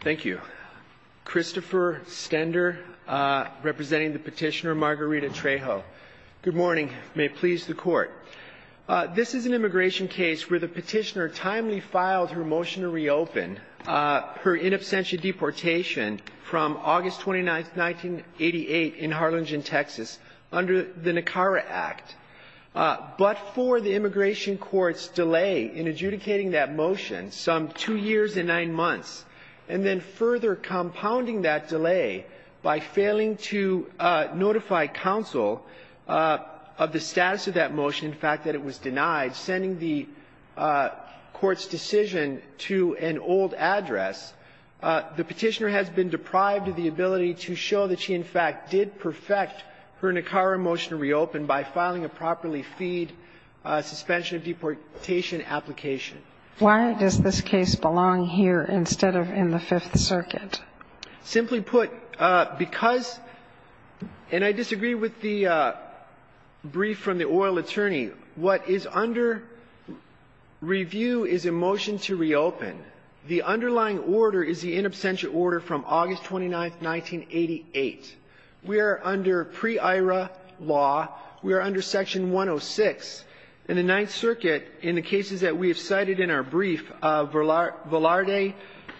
Thank you. Christopher Stender, representing the petitioner Margarita Trejo. Good morning. May it please the Court. This is an immigration case where the petitioner timely filed her motion to reopen her in absentia deportation from August 29, 1988, in Harlingen, Texas, under the Nicara Act. But for the immigration court's delay in adjudicating that motion, some two years and nine months, and then further compounding that delay by failing to notify counsel of the status of that motion, the fact that it was denied, sending the court's decision to an old address, the petitioner has been deprived of the ability to show that she, in fact, did perfect her Nicara motion to reopen by filing a properly feed suspension of deportation application. Why does this case belong here instead of in the Fifth Circuit? Simply put, because – and I disagree with the brief from the oil attorney. What is under review is a motion to reopen. The underlying order is the in absentia order from August 29, 1988. We are under pre-IRA law. We are under Section 106. In the Ninth Circuit, in the cases that we have cited in our brief, Velarde,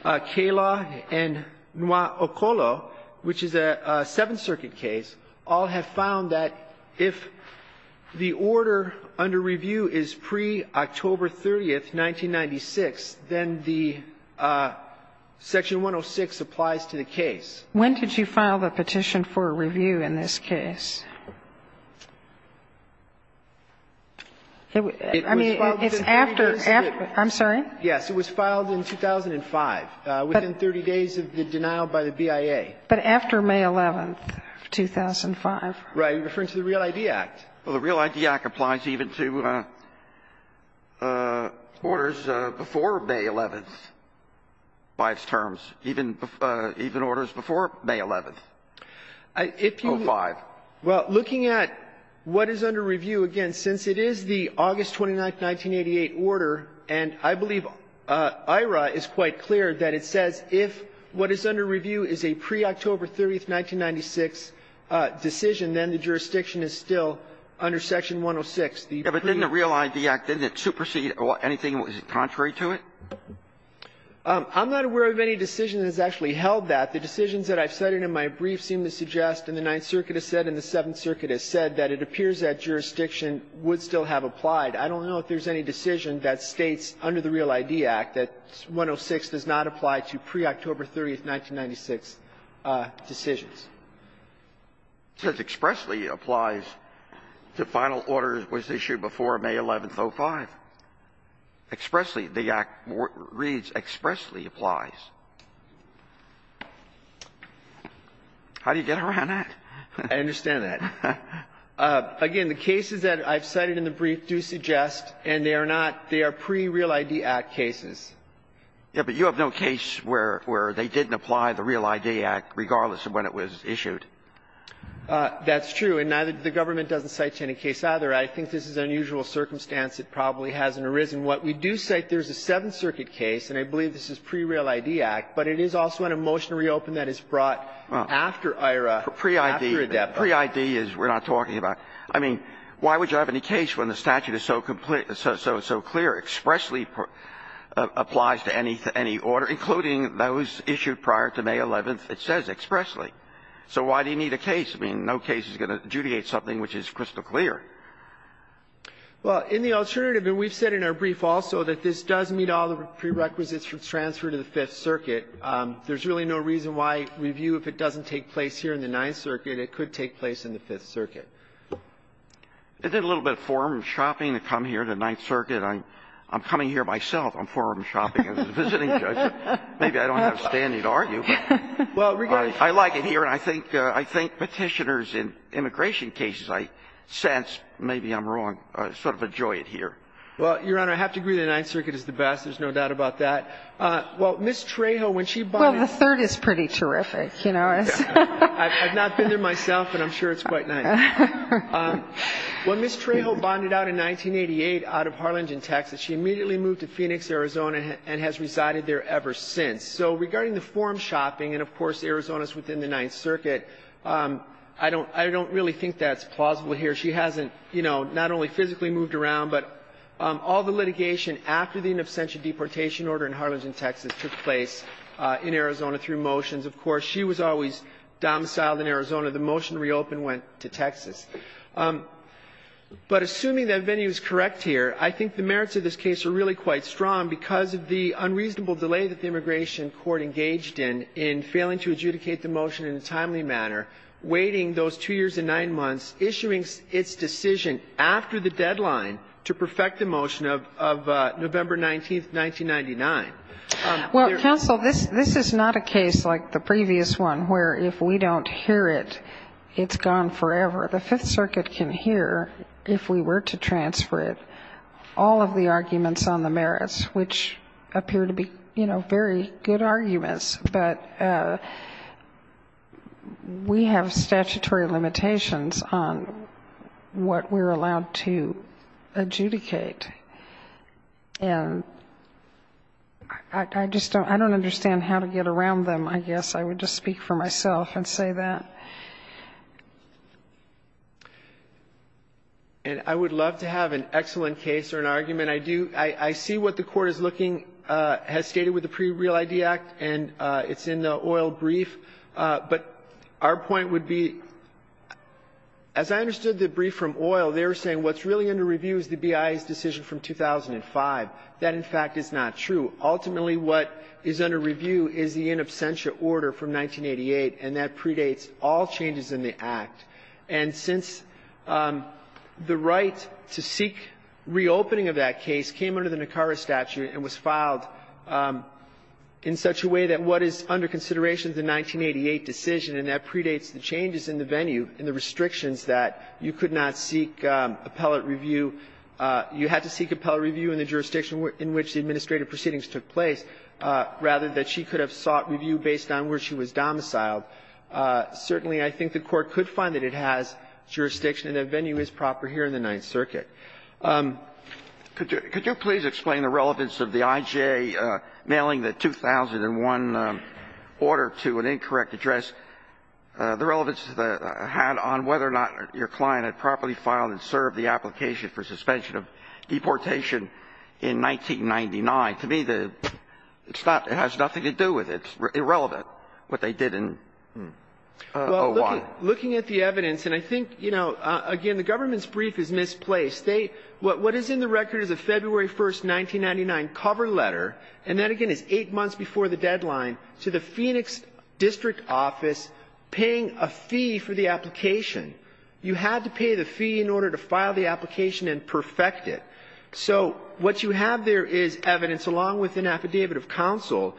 Cayla, and Noir-Ocolo, which is a Seventh Circuit case, all have found that if the order under review is pre-October 30, 1996, then the Section 106 applies to the case. When did you file the petition for review in this case? I mean, it's after – I'm sorry? Yes. It was filed in 2005, within 30 days of the denial by the BIA. But after May 11, 2005. You're referring to the Real ID Act. Well, the Real ID Act applies even to orders before May 11th by its terms, even orders before May 11th, 2005. If you – well, looking at what is under review, again, since it is the August 29, 1988 order, and I believe IRA is quite clear that it says if what is under review is a pre-October 30, 1996 decision, then the jurisdiction is still under Section 106. Yeah, but didn't the Real ID Act, didn't it supersede or anything? Was it contrary to it? I'm not aware of any decision that has actually held that. The decisions that I've cited in my brief seem to suggest, and the Ninth Circuit has said, and the Seventh Circuit has said, that it appears that jurisdiction would still have applied. I don't know if there's any decision that states under the Real ID Act that 106 does not apply to pre-October 30, 1996 decisions. It says expressly applies to final orders was issued before May 11th, 2005. Expressly, the Act reads expressly applies. How do you get around that? I understand that. Again, the cases that I've cited in the brief do suggest, and they are not – they are pre-Real ID Act cases. Yeah, but you have no case where – where they didn't apply the Real ID Act regardless of when it was issued. That's true. And neither – the government doesn't cite any case either. I think this is an unusual circumstance. It probably hasn't arisen. What we do cite, there's a Seventh Circuit case, and I believe this is pre-Real ID Act, but it is also in a motion to reopen that is brought after IHRA, after ADEPA. Pre-ID. Pre-ID is we're not talking about. I mean, why would you have any case when the statute is so complete – so clear – expressly applies to any order, including those issued prior to May 11th, it says expressly. So why do you need a case? I mean, no case is going to adjudicate something which is crystal clear. Well, in the alternative – and we've said in our brief also that this does meet all the prerequisites for transfer to the Fifth Circuit. There's really no reason why review, if it doesn't take place here in the Ninth Circuit, it could take place in the Fifth Circuit. It did a little bit of forum shopping to come here to the Ninth Circuit. I'm coming here myself on forum shopping as a visiting judge. Maybe I don't have a standing to argue, but I like it here, and I think Petitioners in immigration cases, I sense, maybe I'm wrong, sort of enjoy it here. Well, Your Honor, I have to agree the Ninth Circuit is the best. There's no doubt about that. Well, Ms. Trejo, when she bought in – Well, the Third is pretty terrific, you know. I've not been there myself, and I'm sure it's quite nice. When Ms. Trejo bonded out in 1988 out of Harlingen, Texas, she immediately moved to Phoenix, Arizona, and has resided there ever since. So regarding the forum shopping, and, of course, Arizona is within the Ninth Circuit, I don't really think that's plausible here. She hasn't, you know, not only physically moved around, but all the litigation after the in absentia deportation order in Harlingen, Texas, took place in Arizona through motions. Of course, she was always domiciled in Arizona. The motion reopened, went to Texas. But assuming that venue is correct here, I think the merits of this case are really quite strong because of the unreasonable delay that the immigration court engaged in, in failing to adjudicate the motion in a timely manner, waiting those two years and nine months, issuing its decision after the deadline to perfect the motion of November 19th, 1999. Well, counsel, this is not a case like the previous one, where if we don't hear it, it's gone forever. The Fifth Circuit can hear, if we were to transfer it, all of the arguments on the merits, which appear to be, you know, very good arguments. But we have statutory limitations on what we're allowed to adjudicate. And I just don't understand how to get around them, I guess. I would just speak for myself and say that. And I would love to have an excellent case or an argument. I do. I see what the Court is looking, has stated with the Pre-Real ID Act, and it's in the oil brief. But our point would be, as I understood the brief from oil, they were saying what's really under review is the BIA's decision from 2005. That, in fact, is not true. Ultimately, what is under review is the in absentia order from 1988, and that predates all changes in the Act. And since the right to seek reopening of that case came under the Nicara statute and was filed in such a way that what is under consideration is the 1988 decision, and that predates the changes in the venue and the restrictions that you could not seek appellate review. You had to seek appellate review in the jurisdiction in which the administrative proceedings took place, rather than she could have sought review based on where she was domiciled. Certainly, I think the Court could find that it has jurisdiction and that venue is proper here in the Ninth Circuit. Could you please explain the relevance of the IJ mailing the 2001 order to an incorrect address? The relevance had on whether or not your client had properly filed and served the application for suspension of deportation in 1999. To me, it has nothing to do with it. It's irrelevant what they did in 01. Well, looking at the evidence, and I think, you know, again, the government's brief is misplaced. What is in the record is a February 1, 1999 cover letter, and that, again, is eight paying a fee for the application. You had to pay the fee in order to file the application and perfect it. So what you have there is evidence, along with an affidavit of counsel,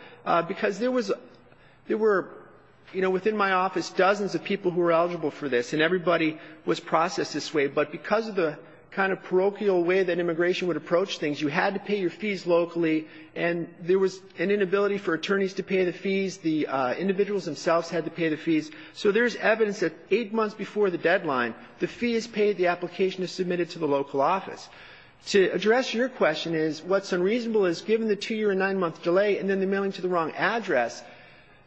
because there was a — there were, you know, within my office dozens of people who were eligible for this, and everybody was processed this way. But because of the kind of parochial way that immigration would approach things, you had to pay your fees locally, and there was an inability for attorneys to pay the fees. The individuals themselves had to pay the fees. So there's evidence that eight months before the deadline, the fee is paid, the application is submitted to the local office. To address your question is, what's unreasonable is, given the two-year and nine-month delay and then the mailing to the wrong address,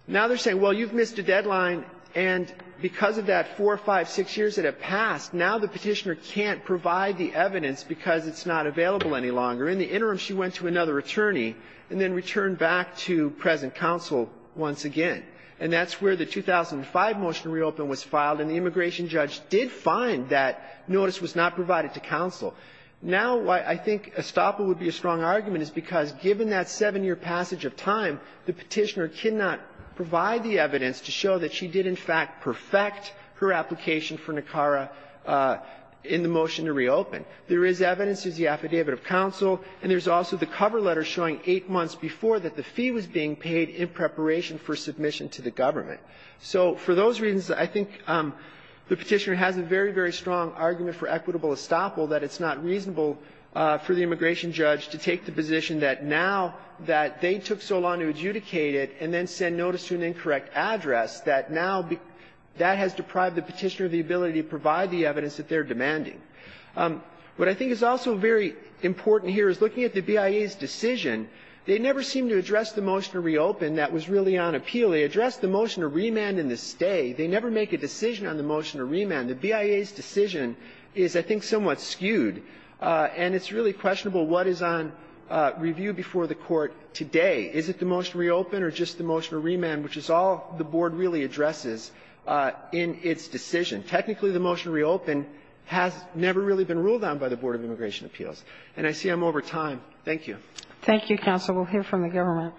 now they're saying, well, you've missed a deadline, and because of that four, five, six years that have passed, now the Petitioner can't provide the evidence because it's not available any longer. In the interim, she went to another attorney and then returned back to present counsel once again. And that's where the 2005 motion to reopen was filed, and the immigration judge did find that notice was not provided to counsel. Now, I think Estoppa would be a strong argument, is because given that seven-year passage of time, the Petitioner cannot provide the evidence to show that she did, in fact, perfect her application for NACARA in the motion to reopen. There is evidence. There's the affidavit of counsel, and there's also the cover letter showing eight months before that the fee was being paid in preparation for submission to the government. So for those reasons, I think the Petitioner has a very, very strong argument for equitable estoppel, that it's not reasonable for the immigration judge to take the position that now that they took so long to adjudicate it and then send notice to an incorrect address, that now that has deprived the Petitioner of the ability to provide the evidence that they're demanding. What I think is also very important here is looking at the BIA's decision, they never seem to address the motion to reopen that was really on appeal. They addressed the motion to remand in the stay. They never make a decision on the motion to remand. The BIA's decision is, I think, somewhat skewed, and it's really questionable what is on review before the Court today. Is it the motion to reopen or just the motion to remand, which is all the Board really addresses in its decision? Technically, the motion to reopen has never really been ruled on by the Board of Immigration Appeals. And I see I'm over time. Thank you. Thank you, counsel. We'll hear from the government.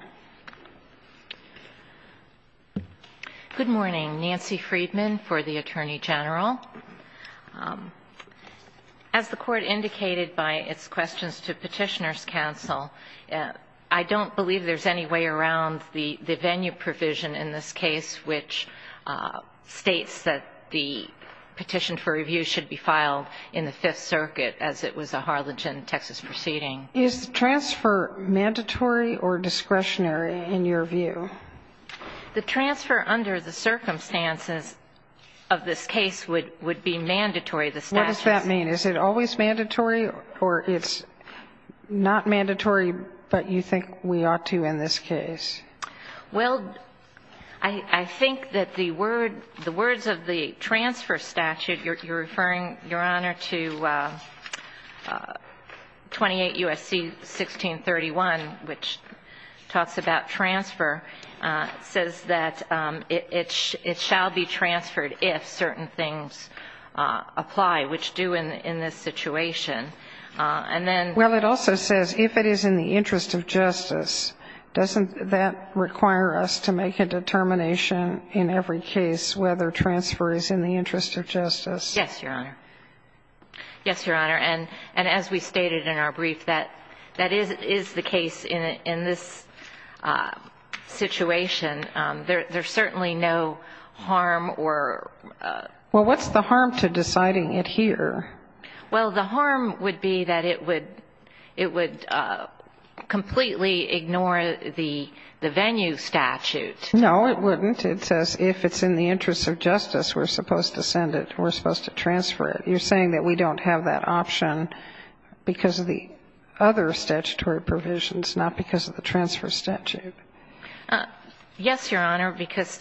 Good morning. Nancy Friedman for the Attorney General. As the Court indicated by its questions to Petitioner's counsel, I don't believe there's any way around the venue provision in this case, which states that the petition for review should be filed in the Fifth Circuit, as it was a Harlingen, Texas, proceeding. Is the transfer mandatory or discretionary in your view? The transfer under the circumstances of this case would be mandatory. What does that mean? Is it always mandatory or it's not mandatory, but you think we ought to in this case? Well, I think that the word, the words of the transfer statute, you're referring, Your Honor, to 28 U.S.C. 1631, which talks about transfer, says that it shall be transferred if certain things apply, which do in this situation. And then ---- Well, it also says if it is in the interest of justice. Doesn't that require us to make a determination in every case whether transfer is in the interest of justice? Yes, Your Honor. Yes, Your Honor. And as we stated in our brief, that is the case in this situation. There's certainly no harm or ---- Well, what's the harm to deciding it here? Well, the harm would be that it would completely ignore the venue statute. No, it wouldn't. It says if it's in the interest of justice, we're supposed to send it, we're supposed to transfer it. You're saying that we don't have that option because of the other statutory provisions, not because of the transfer statute. Yes, Your Honor, because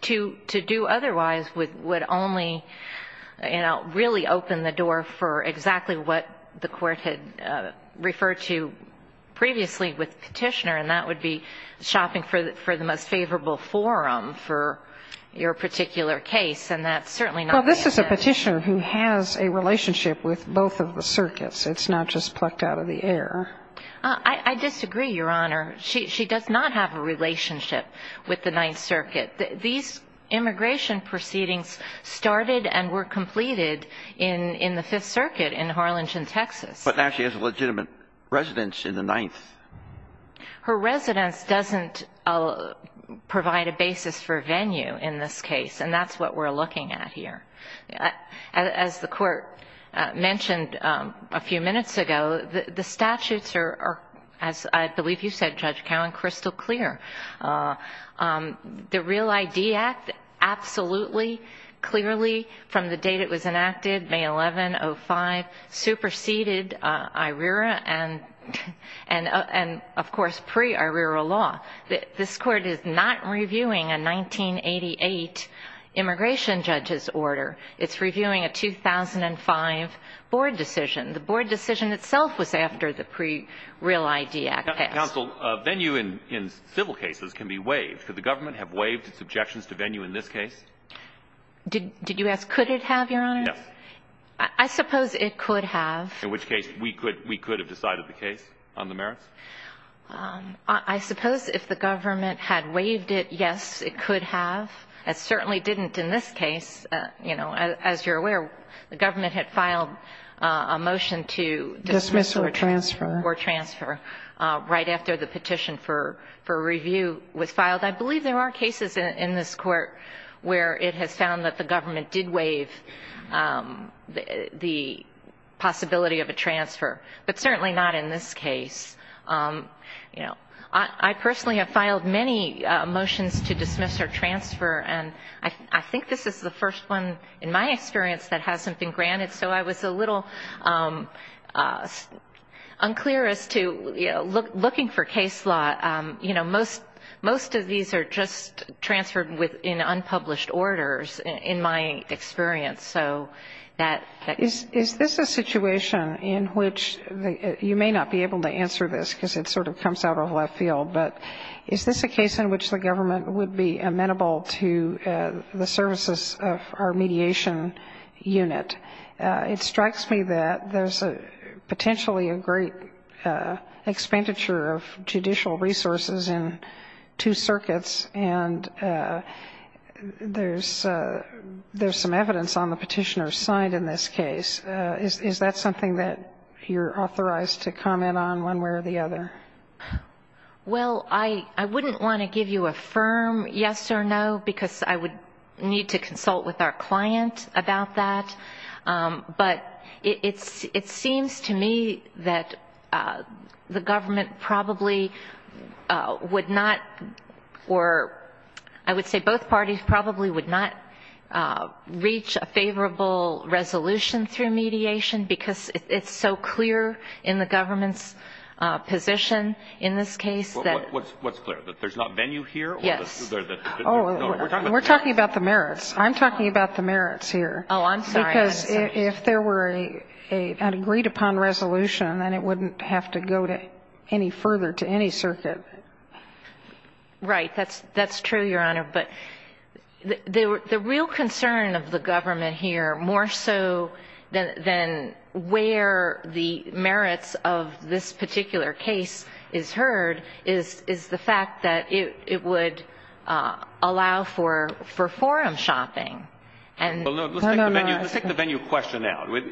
to do otherwise would only, you know, really open the door for exactly what the court had referred to previously with the petitioner, and that would be shopping for the most favorable forum for your particular case, and that's certainly not the case. Well, this is a petitioner who has a relationship with both of the circuits. It's not just plucked out of the air. I disagree, Your Honor. She does not have a relationship with the Ninth Circuit. These immigration proceedings started and were completed in the Fifth Circuit in Harlingen, Texas. But now she has a legitimate residence in the Ninth. Her residence doesn't provide a basis for venue in this case, and that's what we're looking at here. As the Court mentioned a few minutes ago, the statutes are, as I believe you said, Judge Cowan, crystal clear. The REAL ID Act absolutely, clearly, from the date it was enacted, May 11, 05, superseded IRERA and, of course, pre-IRERA law. This Court is not reviewing a 1988 immigration judge's order. It's reviewing a 2005 board decision. The board decision itself was after the pre-REAL ID Act passed. Counsel, venue in civil cases can be waived. Could the government have waived its objections to venue in this case? Did you ask could it have, Your Honor? Yes. I suppose it could have. In which case we could have decided the case on the merits? I suppose if the government had waived it, yes, it could have. It certainly didn't in this case. You know, as you're aware, the government had filed a motion to dismiss or transfer right after the petition for review was filed. I believe there are cases in this Court where it has found that the government did waive the possibility of a transfer, but certainly not in this case. You know, I personally have filed many motions to dismiss or transfer, and I think this is the first one in my experience that hasn't been granted, so I was a little unclear as to, you know, looking for case law. You know, most of these are just transferred in unpublished orders, in my experience. Is this a situation in which you may not be able to answer this because it sort of comes out of left field, but is this a case in which the government would be amenable to the services of our mediation unit? It strikes me that there's potentially a great expenditure of judicial resources in two circuits, and there's some evidence on the petitioner's side in this case. Is that something that you're authorized to comment on one way or the other? Well, I wouldn't want to give you a firm yes or no, because I would need to consult with our client about that. But it seems to me that the government probably would not, or I would say both parties probably would not reach a favorable resolution through mediation because it's so clear in the government's position in this case. What's clear? That there's not venue here? Yes. Oh, we're talking about the merits. I'm talking about the merits here. Oh, I'm sorry. Because if there were an agreed upon resolution, then it wouldn't have to go any further to any circuit. Right. That's true, Your Honor. But the real concern of the government here, more so than where the merits of this particular case is heard, is the fact that it would allow for forum shopping. Let's take the venue question out. Would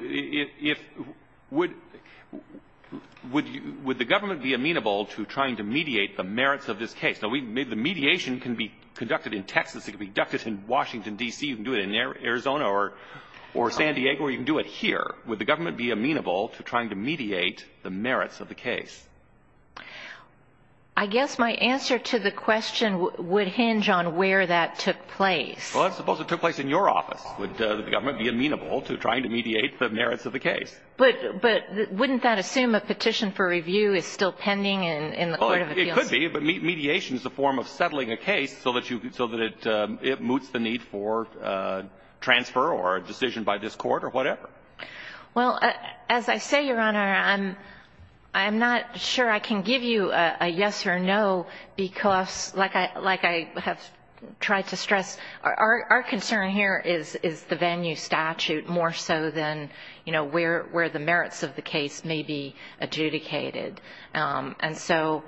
the government be amenable to trying to mediate the merits of this case? Now, the mediation can be conducted in Texas. It can be conducted in Washington, D.C. You can do it in Arizona or San Diego, or you can do it here. Would the government be amenable to trying to mediate the merits of the case? I guess my answer to the question would hinge on where that took place. Well, let's suppose it took place in your office. Would the government be amenable to trying to mediate the merits of the case? But wouldn't that assume a petition for review is still pending in the Court of Appeals? It could be. But mediation is a form of settling a case so that it moots the need for transfer or a decision by this Court or whatever. Well, as I say, Your Honor, I'm not sure I can give you a yes or no because, like I have tried to stress, our concern here is the venue statute more so than, you know, where the merits of the case may be adjudicated. And so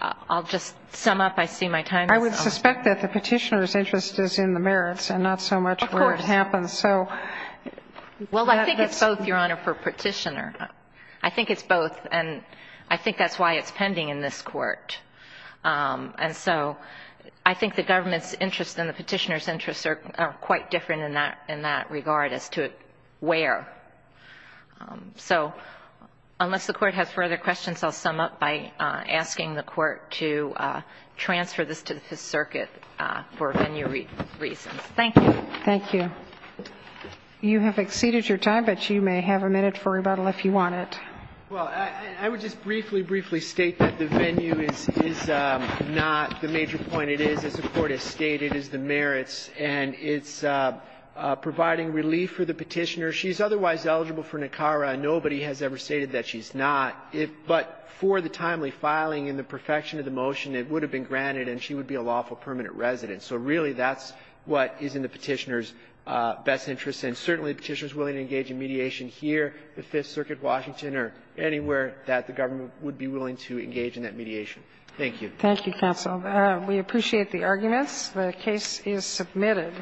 I'll just sum up. I see my time is up. I would suspect that the Petitioner's interest is in the merits and not so much where it happens. Of course. Well, I think it's both, Your Honor, for Petitioner. I think it's both, and I think that's why it's pending in this Court. And so I think the government's interest and the Petitioner's interest are quite different in that regard as to where. So unless the Court has further questions, I'll sum up by asking the Court to transfer this to the Fifth Circuit for venue reasons. Thank you. Thank you. You have exceeded your time, but you may have a minute for rebuttal if you want it. Well, I would just briefly, briefly state that the venue is not the major point. It is, as the Court has stated, is the merits, and it's providing relief for the Petitioner. She's otherwise eligible for NACARA. Nobody has ever stated that she's not. But for the timely filing and the perfection of the motion, it would have been granted, and she would be a lawful permanent resident. So really that's what is in the Petitioner's best interest, and certainly the Petitioner's willing to engage in mediation here, the Fifth Circuit, Washington, or anywhere that the government would be willing to engage in that mediation. Thank you. Thank you, counsel. We appreciate the arguments. The case is submitted.